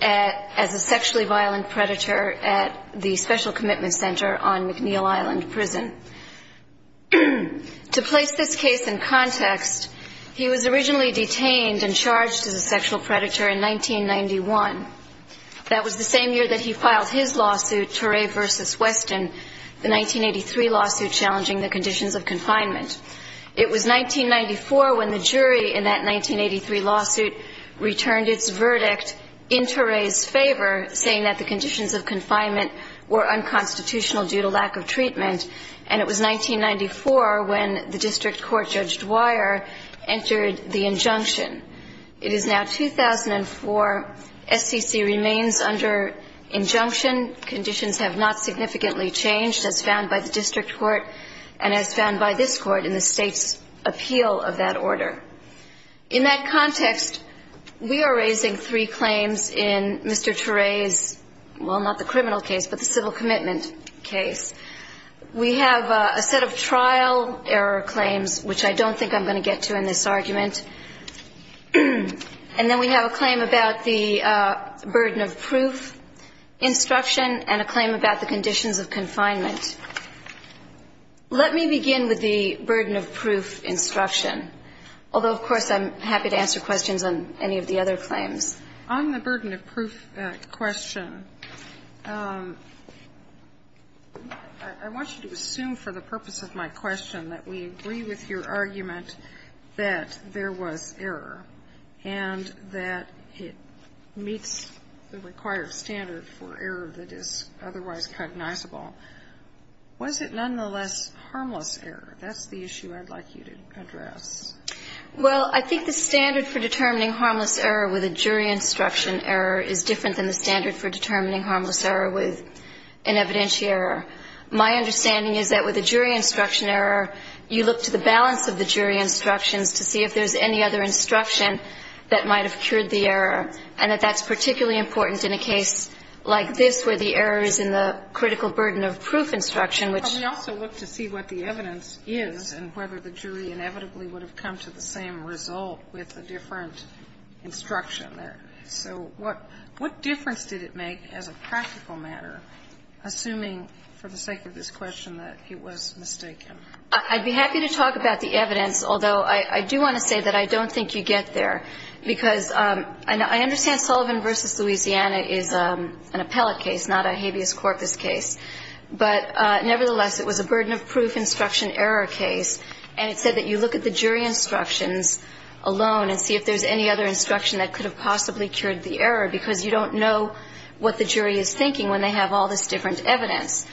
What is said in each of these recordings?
as a sexually violent predator at the Special Commitment Center on McNeil Island Prison. To place this case in context, he was originally detained and charged as a sexual predator in 1991. That was the same year that he filed his lawsuit, Turay v. Weston, the 1983 lawsuit challenging the conditions of confinement. It was 1994 when the jury in that 1983 lawsuit returned its verdict in Turay's favor, saying that the conditions of confinement were unconstitutional due to lack of treatment. And it was 1994 when the district court Judge Dwyer entered the injunction. It is now 2004. SCC remains under injunction. Conditions have not significantly changed as found by the district court and as found by this court in the state's appeal of that order. In that context, we are raising three claims in Mr. Turay's, well, not the criminal case, but the civil commitment case. We have a set of trial error claims, which I don't think I'm going to get to in this argument. And then we have a claim about the burden of proof instruction and a claim about the conditions of confinement. Let me begin with the burden of proof instruction, although, of course, I'm happy to answer questions on any of the other claims. On the burden of proof question, I want you to assume for the purpose of my question that we agree with your argument that there was error and that it meets the required standard for error that is otherwise cognizable. Was it nonetheless harmless error? That's the issue I'd like you to address. Well, I think the standard for determining harmless error with a jury instruction error is different than the standard for determining harmless error with an evidentiary error. My understanding is that with a jury instruction error, you look to the balance of the jury instructions to see if there's any other instruction that might have cured the error, and that that's particularly important in a case like this where the error is in the critical burden of proof instruction, which we also look to see what the evidence is and whether the jury inevitably would have come to the same result with a different instruction there. So what difference did it make as a practical matter, assuming for the sake of this question that it was mistaken? I'd be happy to talk about the evidence, although I do want to say that I don't think you get there, because I understand Sullivan v. Louisiana is an appellate case, not a habeas corpus case. But nevertheless, it was a burden of proof instruction error case, and it said that you look at the jury instructions alone and see if there's any other instruction that could have possibly cured the error, because you don't know what the jury is thinking when they have all this different evidence.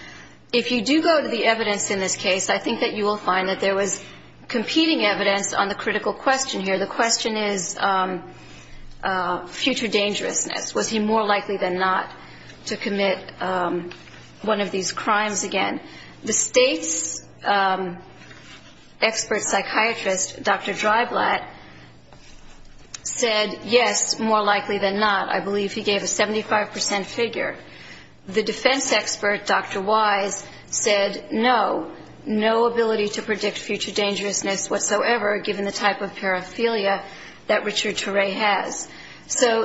If you do go to the evidence in this case, I think that you will find that there was The question is, future dangerousness. Was he more likely than not to commit one of these crimes again? The state's expert psychiatrist, Dr. Dreiblatt, said yes, more likely than not. I believe he gave a 75% figure. The defense expert, Dr. Wise, said no, no ability to So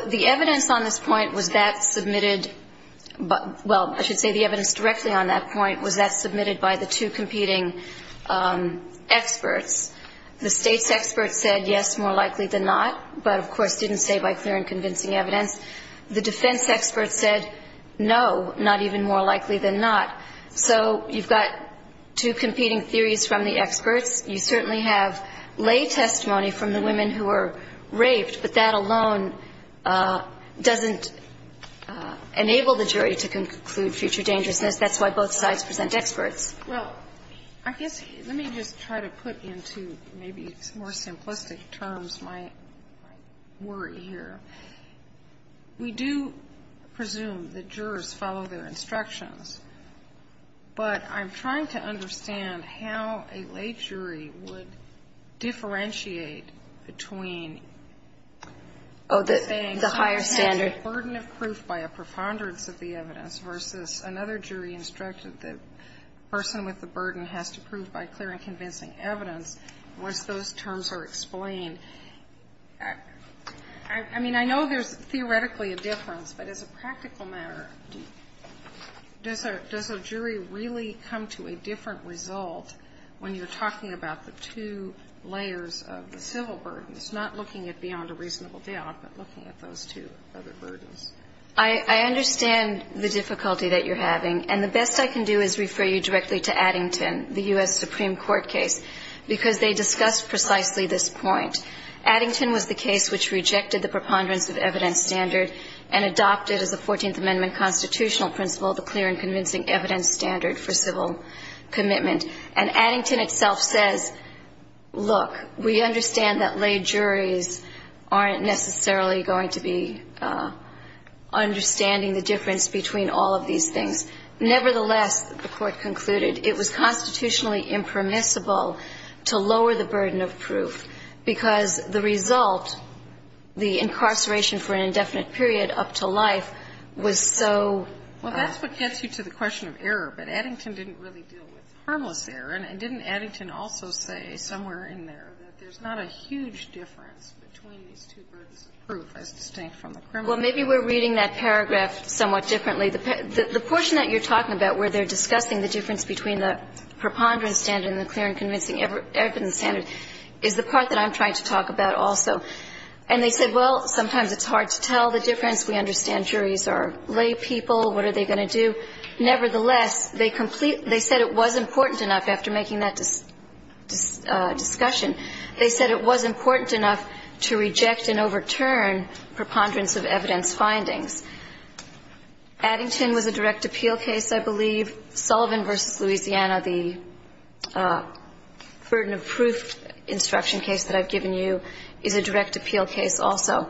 the evidence on this point was that submitted, well, I should say the evidence directly on that point was that submitted by the two competing experts. The state's expert said yes, more likely than not, but of course didn't say by clear and convincing evidence. The defense expert said no, not even more likely than not. So you've got two competing theories from the experts. You certainly have lay testimony from the women who were raped, but that alone doesn't enable the jury to conclude future dangerousness. That's why both sides present experts. Well, I guess let me just try to put into maybe more simplistic terms my worry here. We do presume that jurors follow their instructions, but I'm trying to understand how a lay jury would differentiate between the higher standard burden of proof by a preponderance of the evidence versus another jury instructed that the person with the burden has to prove by clear and convincing evidence. Was those terms are explained? I mean, I know there's theoretically a difference, but as a practical matter, does a jury really come to a different result when you're talking about the two layers of the civil burdens, not looking at beyond a reasonable doubt, but looking at those two other burdens? I understand the difficulty that you're having, and the best I can do is refer you directly to Addington, the U.S. Supreme Court case, because they discuss precisely this point. Addington was the case which rejected the preponderance of evidence standard and adopted as a Fourteenth Amendment constitutional principle the clear and convincing evidence standard for civil commitment. And Addington itself says, look, we understand that lay juries aren't necessarily going to be understanding the difference between all of these things. Nevertheless, the Court concluded, it was constitutionally impermissible to lower the burden of proof because the result, the incarceration for an indefinite period up to life, was so. Well, that's what gets you to the question of error. But Addington didn't really deal with harmless error. And didn't Addington also say somewhere in there that there's not a huge difference between these two burdens of proof as distinct from the criminal? Well, maybe we're reading that paragraph somewhat differently. The portion that you're talking about where they're discussing the difference between the preponderance standard and the clear and convincing evidence standard is the part that I'm trying to talk about also. And they said, well, sometimes it's hard to tell the difference. We understand juries are lay people. What are they going to do? Nevertheless, they complete they said it was important enough, after making that discussion, they said it was important enough to reject and overturn preponderance of evidence findings. Addington was a direct appeal case, I believe. Sullivan v. Louisiana, the burden of proof instruction case that I've given you, is a direct appeal case also.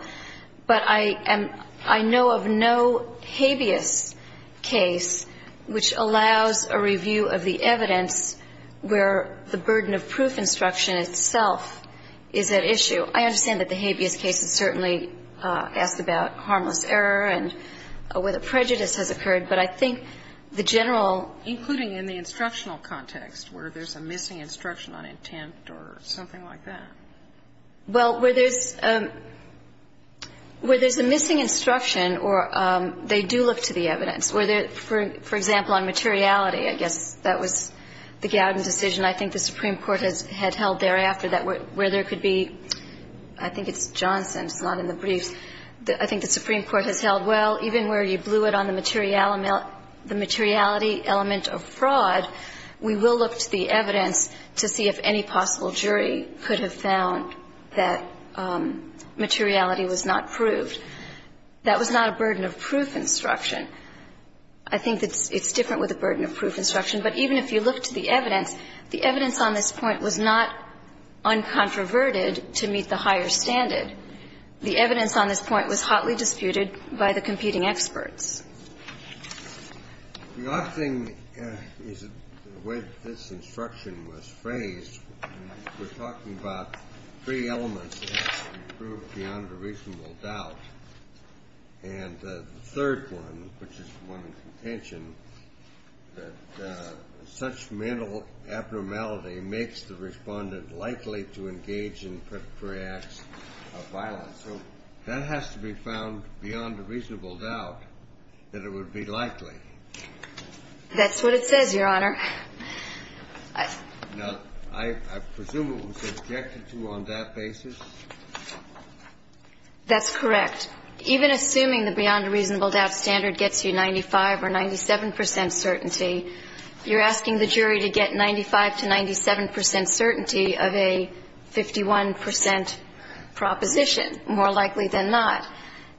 But I am – I know of no habeas case which allows a review of the evidence where the burden of proof instruction itself is at issue. I understand that the habeas case is certainly asked about harmless error and whether prejudice has occurred. But I think the general – Including in the instructional context where there's a missing instruction on intent or something like that. Well, where there's – where there's a missing instruction or they do look to the evidence. For example, on materiality, I guess that was the Gowden decision I think the Supreme Court had held thereafter that where there could be – I think it's Johnson, it's not in the briefs. I think the Supreme Court has held, well, even where you blew it on the materiality element of fraud, we will look to the evidence to see if any possible jury could have found that materiality was not proved. That was not a burden of proof instruction. I think it's different with a burden of proof instruction. But even if you look to the evidence, the evidence on this point was not uncontroverted to meet the higher standard. The evidence on this point was hotly disputed by the competing experts. The other thing is the way that this instruction was phrased. We're talking about three elements that have to be proved beyond a reasonable doubt. And the third one, which is one of contention, that such mental abnormality makes the Respondent likely to engage in preparatory acts of violence. So that has to be found beyond a reasonable doubt that it would be likely. That's what it says, Your Honor. Now, I presume it was subjected to on that basis? That's correct. Even assuming the beyond a reasonable doubt standard gets you 95 or 97 percent certainty, you're asking the jury to get 95 to 97 percent certainty of a 51 percent proposition, more likely than not.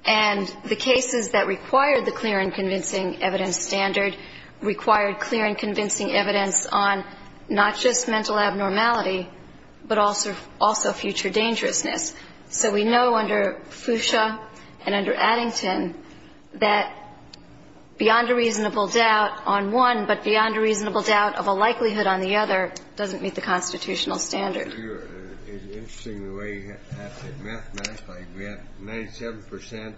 And the cases that required the clear and convincing evidence standard required clear and convincing evidence on not just mental abnormality, but also future dangerousness. So we know under Fuchsia and under Addington that beyond a reasonable doubt on one, but beyond a reasonable doubt of a likelihood on the other, doesn't meet the constitutional standard. It's interesting the way you have to mathematically grant 97 percent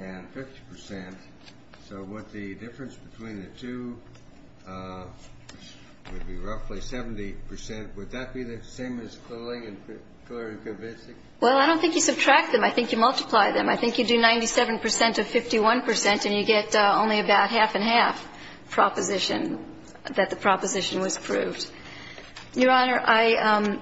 and 50 percent. So would the difference between the two would be roughly 70 percent. Would that be the same as clear and convincing? Well, I don't think you subtract them. I think you multiply them. I think you do 97 percent of 51 percent, and you get only about half and half proposition that the proposition was proved. Your Honor, I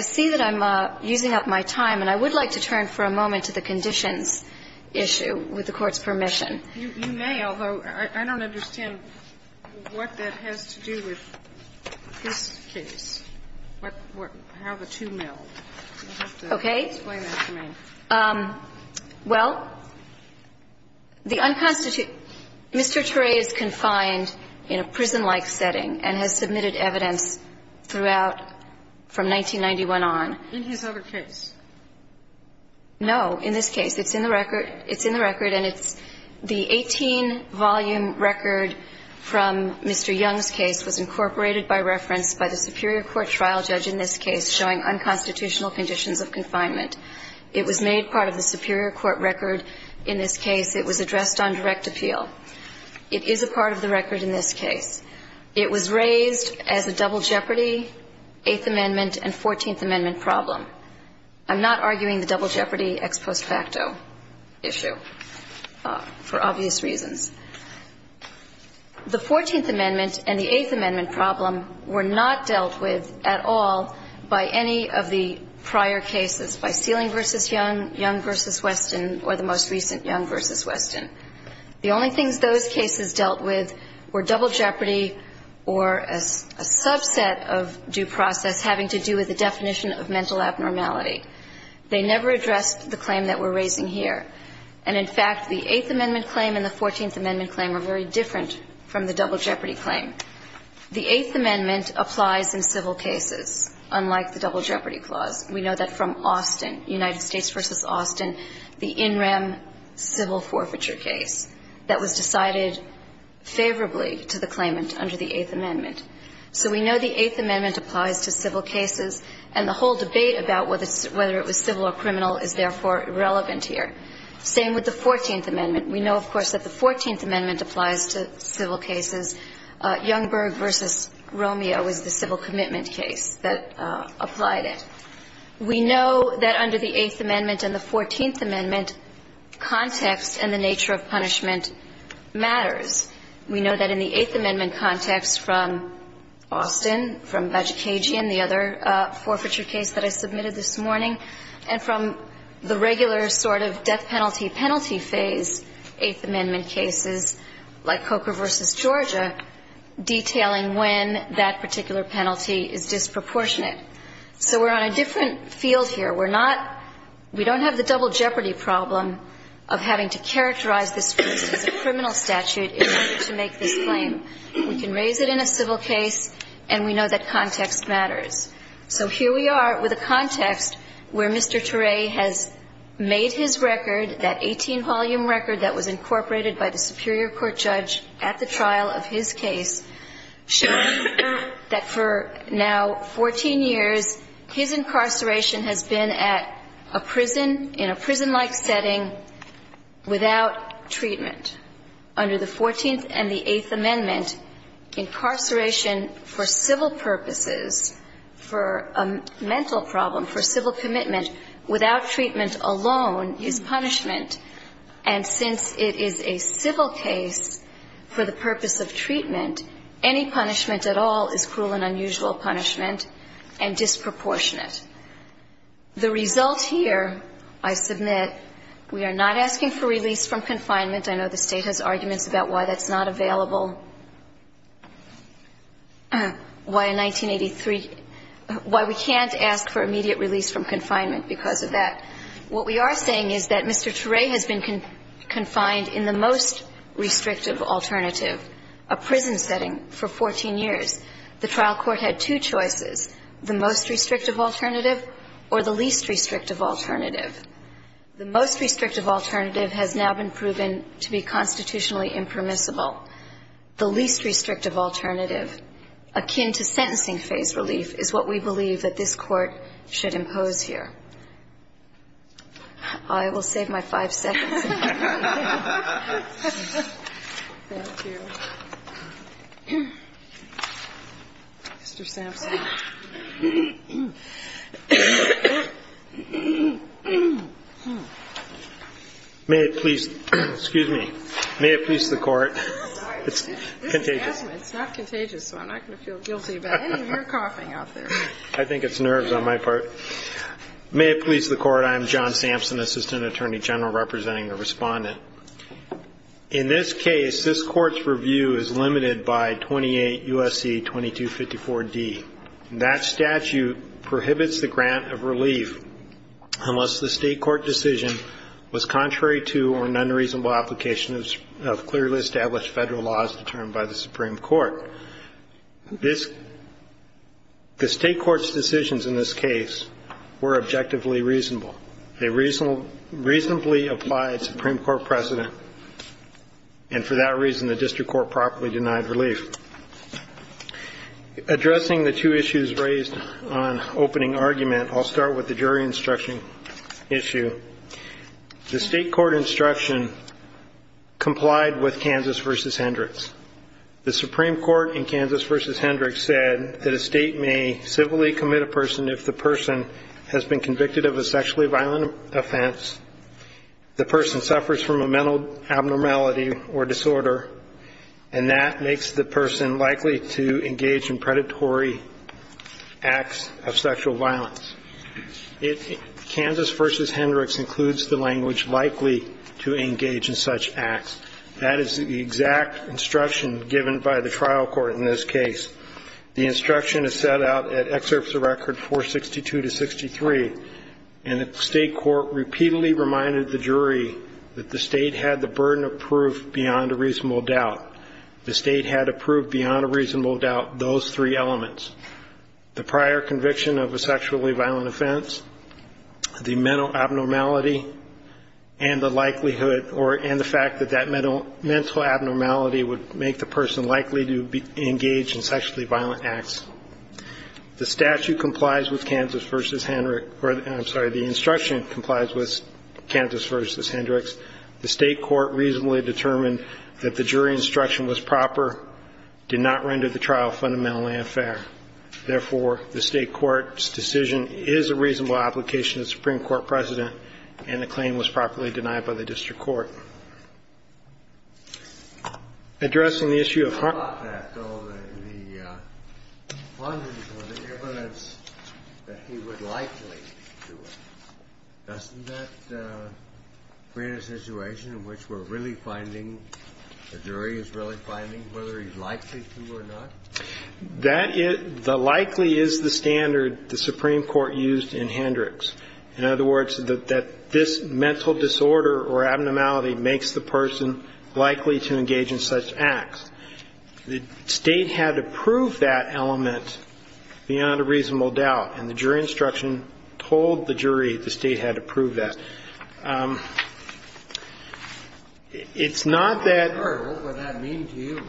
see that I'm using up my time, and I would like to turn for a moment to the conditions issue, with the Court's permission. You may, although I don't understand what that has to do with this case, how the two meld. You'll have to explain that to me. Okay. Well, the unconstitutional Mr. Turay is confined in a prison-like setting and has submitted evidence throughout from 1991 on. In his other case? No. In this case. It's in the record. It's in the record, and it's the 18-volume record from Mr. Young's case was incorporated by reference by the superior court trial judge in this case showing unconstitutional conditions of confinement. It was made part of the superior court record in this case. It was addressed on direct appeal. It is a part of the record in this case. It was raised as a double jeopardy, Eighth Amendment and Fourteenth Amendment problem. I'm not arguing the double jeopardy ex post facto issue for obvious reasons. The Fourteenth Amendment and the Eighth Amendment problem were not dealt with at all by any of the prior cases, by Sealing v. Young, Young v. Weston, or the most recent, Young v. Weston. The only things those cases dealt with were double jeopardy or a subset of due process having to do with the definition of mental abnormality. They never addressed the claim that we're raising here. And, in fact, the Eighth Amendment claim and the Fourteenth Amendment claim are very different from the double jeopardy claim. The Eighth Amendment applies in civil cases, unlike the double jeopardy clause. We know that from Austin, United States v. Austin, the in rem civil forfeiture case that was decided favorably to the claimant under the Eighth Amendment. So we know the Eighth Amendment applies to civil cases, and the whole debate about whether it was civil or criminal is, therefore, irrelevant here. Same with the Fourteenth Amendment. We know, of course, that the Fourteenth Amendment applies to civil cases. Youngberg v. Romeo is the civil commitment case that applied it. We know that under the Eighth Amendment and the Fourteenth Amendment, context and the nature of punishment matters. We know that in the Eighth Amendment context from Austin, from Vagicagian, the other forfeiture case that I submitted this morning, and from the regular sort of death penalty, penalty phase Eighth Amendment cases, like Coker v. Georgia, detailing when that particular penalty is disproportionate. So we're on a different field here. We're not – we don't have the double jeopardy problem of having to characterize this case as a criminal statute in order to make this claim. We can raise it in a civil case, and we know that context matters. So here we are with a context where Mr. Turay has made his record, that 18-volume record that was incorporated by the superior court judge at the trial of his case, showing that for now 14 years, his incarceration has been at a prison, in a prison-like setting, without treatment. Under the Fourteenth and the Eighth Amendment, incarceration for civil purposes, for a mental problem, for civil commitment, without treatment alone, is punishment. And since it is a civil case for the purpose of treatment, any punishment at all is cruel and unusual punishment and disproportionate. The result here, I submit, we are not asking for release from confinement. I know the State has arguments about why that's not available, why in 1983 – why we can't ask for immediate release from confinement because of that. What we are saying is that Mr. Turay has been confined in the most restrictive alternative, a prison setting, for 14 years. The trial court had two choices, the most restrictive alternative or the least restrictive alternative. The most restrictive alternative has now been proven to be constitutionally impermissible. The least restrictive alternative, akin to sentencing-phase relief, is what we believe that this Court should impose here. I will save my five seconds. Thank you. Mr. Sampson. May it please the Court. It's contagious. It's not contagious, so I'm not going to feel guilty about any of your coughing out there. I think it's nerves on my part. May it please the Court. I am John Sampson, Assistant Attorney General, representing the Respondent. In this case, this Court's review is limited by 28 U.S.C. 2254d. That statute prohibits the grant of relief unless the State court decision was contrary to or an unreasonable application of clearly established Federal laws determined by the Supreme Court. The State court's decisions in this case were objectively reasonable. They reasonably applied Supreme Court precedent, and for that reason, the District Court properly denied relief. Addressing the two issues raised on opening argument, I'll start with the jury instruction issue. The State court instruction complied with Kansas v. Hendricks. The Supreme Court in Kansas v. Hendricks said that a State may civilly commit a person if the person has been convicted of a sexually violent offense, the person suffers from a mental abnormality or disorder, and that makes the person likely to engage in predatory acts of sexual violence. Kansas v. Hendricks includes the language likely to engage in such acts. That is the exact instruction given by the trial court in this case. The instruction is set out at Excerpts of Record 462-63, and the State court repeatedly reminded the jury that the State had the burden of proof beyond a reasonable doubt. The State had approved beyond a reasonable doubt those three elements, the prior conviction of a sexually violent offense, the mental abnormality, and the likelihood that that mental abnormality would make the person likely to engage in sexually violent acts. The statute complies with Kansas v. Hendricks or, I'm sorry, the instruction complies with Kansas v. Hendricks. The State court reasonably determined that the jury instruction was proper, did not render the trial fundamentally unfair. Therefore, the State court's decision is a reasonable application of the Supreme Court precedent, and the claim was properly denied by the district court. Addressing the issue of harm. The funding for the evidence that he would likely do it, doesn't that create a situation in which we're really finding, the jury is really finding whether he's likely to or not? That is the likely is the standard the Supreme Court used in Hendricks. In other words, that this mental disorder or abnormality makes the person likely to engage in such acts. The State had approved that element beyond a reasonable doubt, and the jury instruction told the jury the State had approved that. It's not that. What would that mean to you?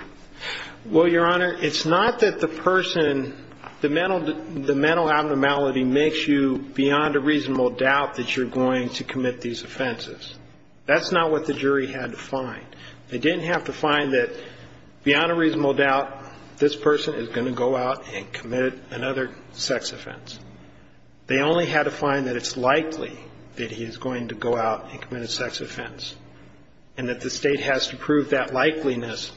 Well, Your Honor, it's not that the person, the mental abnormality makes you beyond a reasonable doubt that you're going to commit these offenses. That's not what the jury had to find. They didn't have to find that beyond a reasonable doubt, this person is going to go out and commit another sex offense. They only had to find that it's likely that he's going to go out and commit a sex offense, and that the State has to prove that likeliness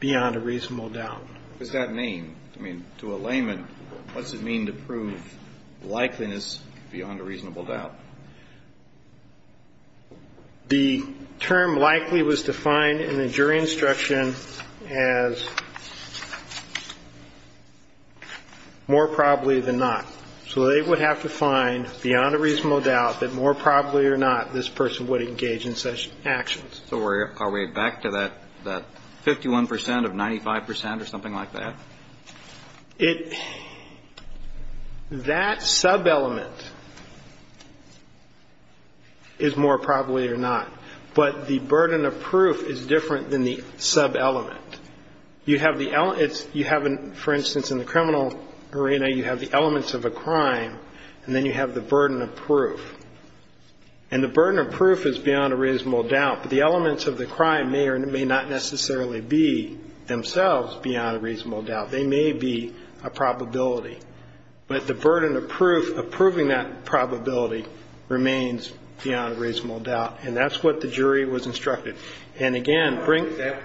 beyond a reasonable doubt. What does that mean? I mean, to a layman, what's it mean to prove likeliness beyond a reasonable doubt? The term likely was defined in the jury instruction as more probably than not. So they would have to find beyond a reasonable doubt that more probably or not this person would engage in such actions. So are we back to that 51 percent of 95 percent or something like that? It – that subelement is more probably or not. But the burden of proof is different than the subelement. You have the – you have, for instance, in the criminal arena, you have the elements of a crime, and then you have the burden of proof. And the burden of proof is beyond a reasonable doubt. But the elements of the crime may or may not necessarily be themselves beyond a reasonable doubt. They may be a probability. But the burden of proof, of proving that probability, remains beyond a reasonable doubt. And that's what the jury was instructed. And again, bring – I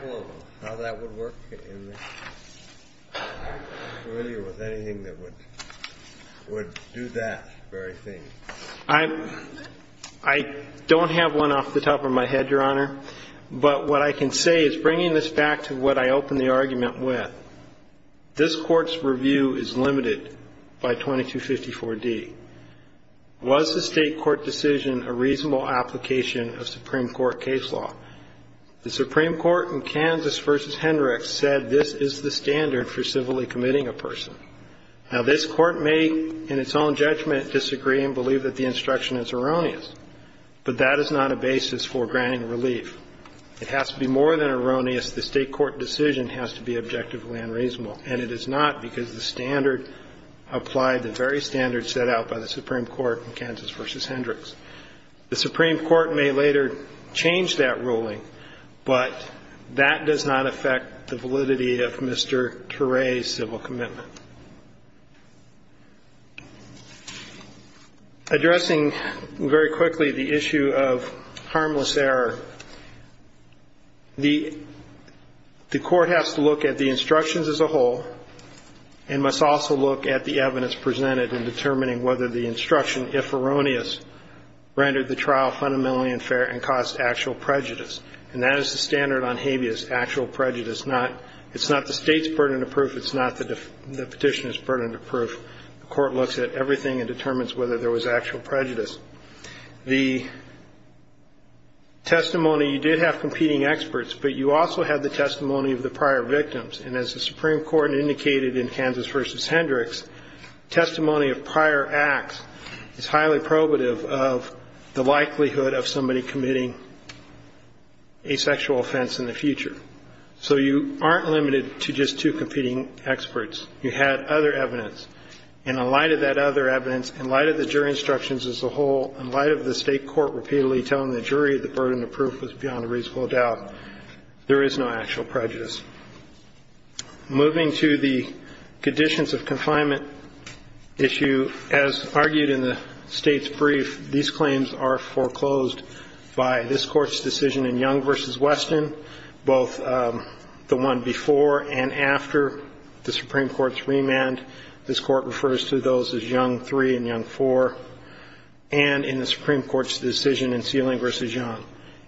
don't have one off the top of my head, Your Honor. But what I can say is, bringing this back to what I opened the argument with, this Court's review is limited by 2254d. Was the State court decision a reasonable application of Supreme Court case law? The Supreme Court in Kansas v. Hendricks said this is the standard for civilly committing a person. Now, this Court may, in its own judgment, disagree and believe that the instruction is erroneous. But that is not a basis for granting relief. It has to be more than erroneous. The State court decision has to be objectively unreasonable. And it is not, because the standard applied, the very standard set out by the Supreme Court in Kansas v. Hendricks. The Supreme Court may later change that ruling, but that does not affect the validity of Mr. Turay's civil commitment. Addressing very quickly the issue of harmless error, the court has to look at the instructions as a whole and must also look at the evidence presented in determining whether the instruction, if erroneous, rendered the trial fundamentally unfair and caused actual prejudice. And that is the standard on habeas, actual prejudice. It's not the State's burden of proof. It's not the Petitioner's burden of proof. The court looks at everything and determines whether there was actual prejudice. The testimony, you did have competing experts, but you also had the testimony of the prior victims. And as the Supreme Court indicated in Kansas v. Hendricks, testimony of prior acts is highly probative of the likelihood of somebody committing a sexual offense in the future. So you aren't limited to just two competing experts. You had other evidence. And in light of that other evidence, in light of the jury instructions as a whole, in light of the State court repeatedly telling the jury the burden of proof was beyond a reasonable doubt, there is no actual prejudice. Moving to the conditions of confinement issue, as argued in the State's brief, these claims are foreclosed by this Court's decision in Young v. Weston, both the one before and after the Supreme Court's remand. This Court refers to those as Young 3 and Young 4, and in the Supreme Court's decision in Sealing v. Young.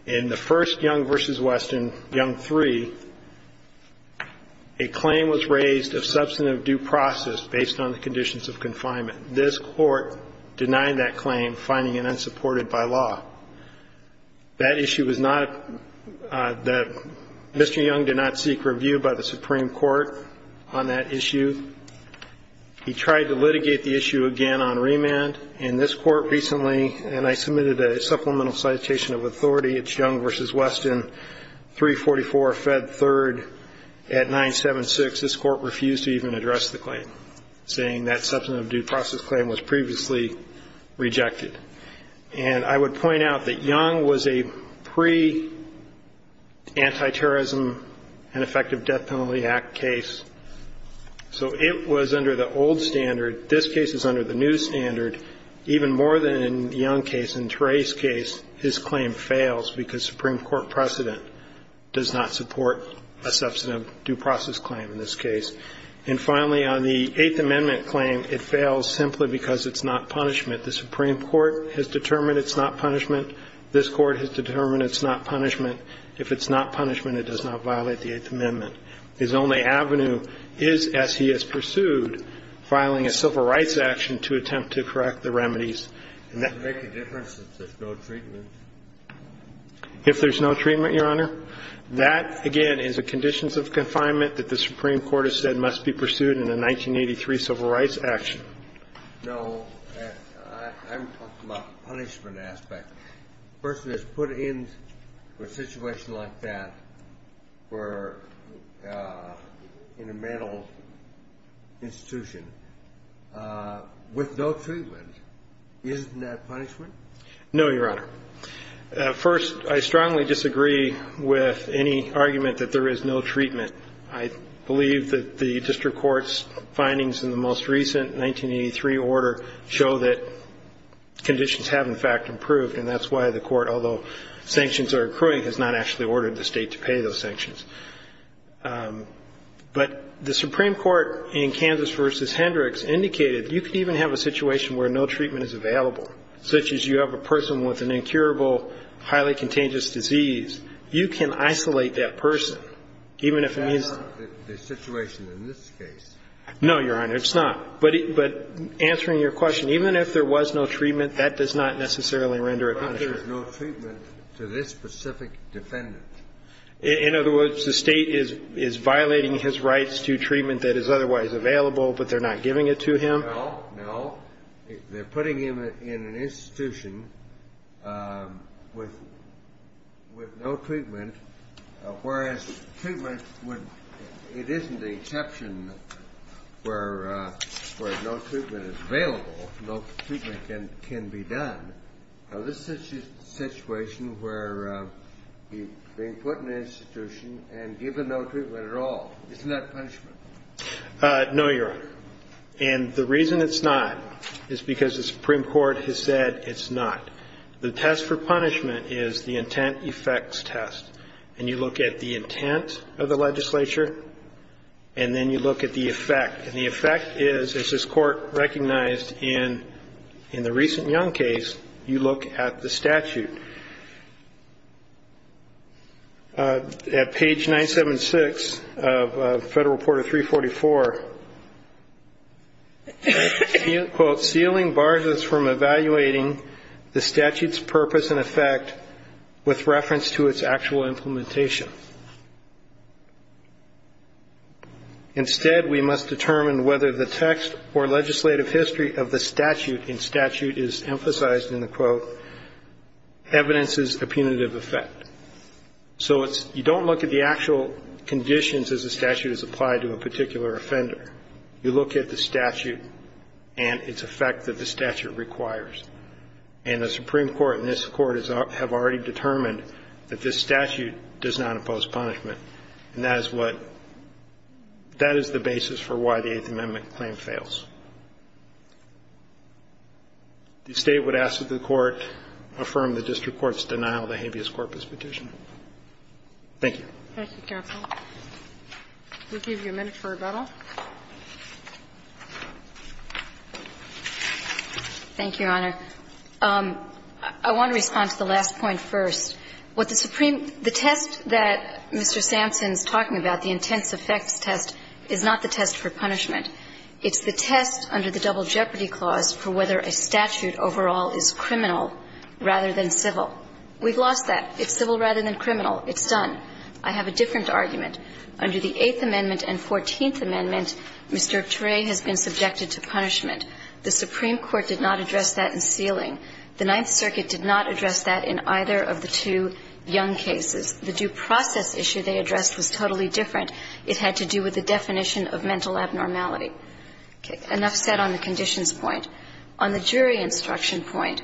In the first Young v. Weston, Young 3, a claim was raised of substantive due process based on the conditions of confinement. This Court denied that claim, finding it unsupported by law. That issue was not the Mr. Young did not seek review by the Supreme Court on that issue. He tried to litigate the issue again on remand. In this Court recently, and I submitted a supplemental citation of authority, it's Young v. Weston, 344 Fed 3rd at 976. This Court refused to even address the claim, saying that substantive due process claim was previously rejected. And I would point out that Young was a pre-antiterrorism and effective death penalty act case, so it was under the old standard. This case is under the new standard. Even more than in Young case, in Trey's case, his claim fails because Supreme Court precedent does not support a substantive due process claim in this case. And finally, on the Eighth Amendment claim, it fails simply because it's not punishment. The Supreme Court has determined it's not punishment. This Court has determined it's not punishment. If it's not punishment, it does not violate the Eighth Amendment. His only avenue is, as he has pursued, filing a civil rights action to attempt to correct the remedies. And that makes a difference if there's no treatment. If there's no treatment, Your Honor, that, again, is a conditions of confinement that the Supreme Court has said must be pursued in a 1983 civil rights action. No. I'm talking about the punishment aspect. If a person is put in a situation like that or in a mental institution with no treatment, isn't that punishment? No, Your Honor. First, I strongly disagree with any argument that there is no treatment. I believe that the district court's findings in the most recent 1983 order show that there is no treatment. And that's why the Court, although sanctions are accruing, has not actually ordered the State to pay those sanctions. But the Supreme Court in Kansas v. Hendricks indicated you can even have a situation where no treatment is available, such as you have a person with an incurable, highly contagious disease. You can isolate that person, even if it means the situation in this case. No, Your Honor, it's not. But answering your question, even if there was no treatment, that does not necessarily render a punishment. But there is no treatment to this specific defendant. In other words, the State is violating his rights to treatment that is otherwise available, but they're not giving it to him? No, no. They're putting him in an institution with no treatment, whereas treatment is available, no treatment can be done. Now, this is a situation where he's being put in an institution and given no treatment at all. Isn't that punishment? No, Your Honor. And the reason it's not is because the Supreme Court has said it's not. The test for punishment is the intent-effects test. And you look at the intent of the legislature, and then you look at the effect. And the effect is, as this Court recognized in the recent Young case, you look at the statute. At page 976 of Federal Reporter 344, quote, sealing bars us from evaluating the statute's purpose and effect with reference to its actual implementation. Instead, we must determine whether the text or legislative history of the statute in statute is emphasized in the quote, evidence is a punitive effect. So you don't look at the actual conditions as the statute is applied to a particular offender. You look at the statute and its effect that the statute requires. And the Supreme Court and this Court have already determined that this statute does not impose punishment. And that is what – that is the basis for why the Eighth Amendment claim fails. The State would ask that the Court affirm the district court's denial of the habeas corpus petition. Thank you. Thank you, counsel. We'll give you a minute for rebuttal. Thank you, Your Honor. I want to respond to the last point first. What the Supreme – the test that Mr. Sampson is talking about, the intense effects test, is not the test for punishment. It's the test under the Double Jeopardy Clause for whether a statute overall is criminal rather than civil. We've lost that. It's civil rather than criminal. It's done. I have a different argument. Under the Eighth Amendment and Fourteenth Amendment, Mr. Turay has been subjected to punishment. The Supreme Court did not address that in Sealing. The Ninth Circuit did not address that in either of the two young cases. The due process issue they addressed was totally different. It had to do with the definition of mental abnormality. Okay. Enough said on the conditions point. On the jury instruction point,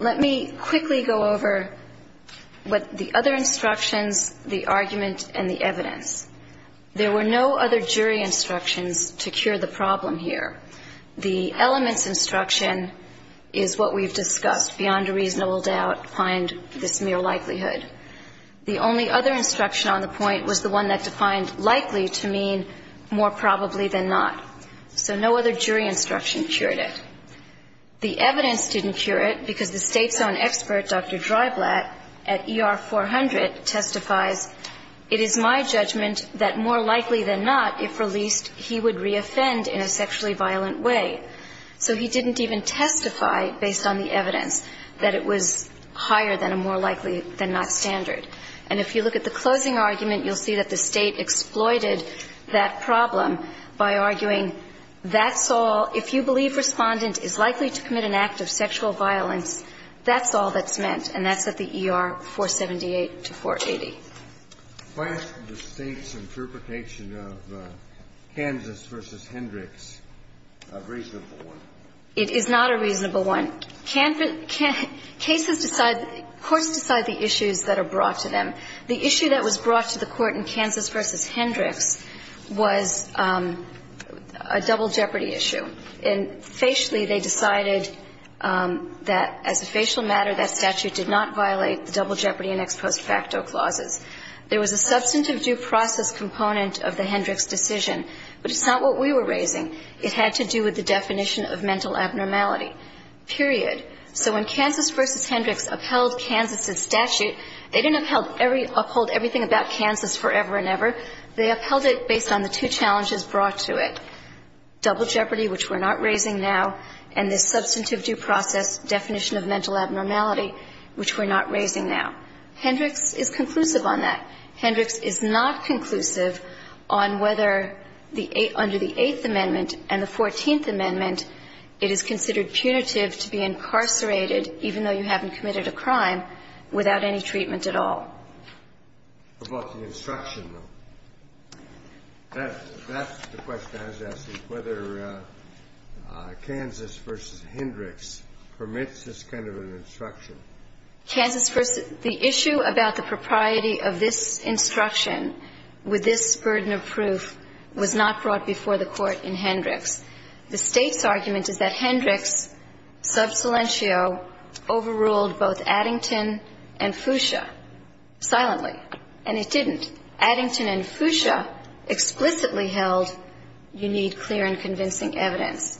let me quickly go over what the other instructions, the argument, and the evidence. There were no other jury instructions to cure the problem here. The elements instruction is what we've discussed. Beyond a reasonable doubt, find this mere likelihood. The only other instruction on the point was the one that defined likely to mean more probably than not. So no other jury instruction cured it. The evidence didn't cure it because the State's own expert, Dr. Dreiblatt, at ER 400 testifies, It is my judgment that more likely than not, if released, he would re-offend in a sexually violent way. So he didn't even testify, based on the evidence, that it was higher than a more likely than not standard. And if you look at the closing argument, you'll see that the State exploited that problem by arguing that's all, if you believe Respondent is likely to commit an act of sexual violence, that's all that's meant. And that's at the ER 478 to 480. Kennedy. Why isn't the State's interpretation of Kansas v. Hendricks a reasonable one? It is not a reasonable one. Cases decide the issues that are brought to them. The issue that was brought to the Court in Kansas v. Hendricks was a double jeopardy issue. And facially, they decided that as a facial matter, that statute did not violate the double jeopardy in ex post facto clauses. There was a substantive due process component of the Hendricks decision, but it's not what we were raising. It had to do with the definition of mental abnormality, period. So when Kansas v. Hendricks upheld Kansas's statute, they didn't uphold everything about Kansas forever and ever. They upheld it based on the two challenges brought to it. Double jeopardy, which we're not raising now, and this substantive due process definition of mental abnormality, which we're not raising now. Hendricks is conclusive on that. Hendricks is not conclusive on whether the eight under the Eighth Amendment and the Fourteenth Amendment, it is considered punitive to be incarcerated even though you haven't committed a crime without any treatment at all. About the instruction, though, that's the question I was asking, whether Kansas v. Hendricks permits this kind of an instruction. Kansas v. The issue about the propriety of this instruction with this burden of proof was not brought before the Court in Hendricks. The State's argument is that Hendricks, sub silentio, overruled both Addington and Fuchsia. Silently. And it didn't. Addington and Fuchsia explicitly held you need clear and convincing evidence.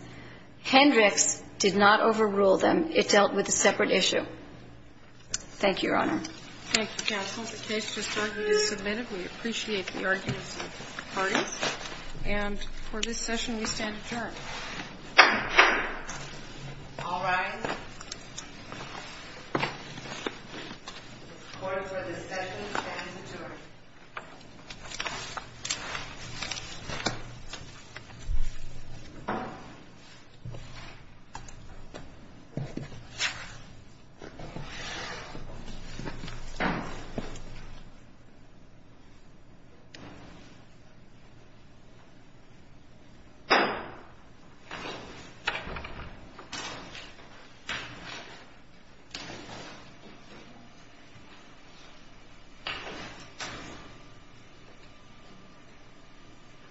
Hendricks did not overrule them. It dealt with a separate issue. Thank you, Your Honor. Thank you, counsel. The case just started and is submitted. We appreciate the arguments of the parties. And for this session, we stand adjourned. All rise. The Court for this session stands adjourned. The Court is adjourned.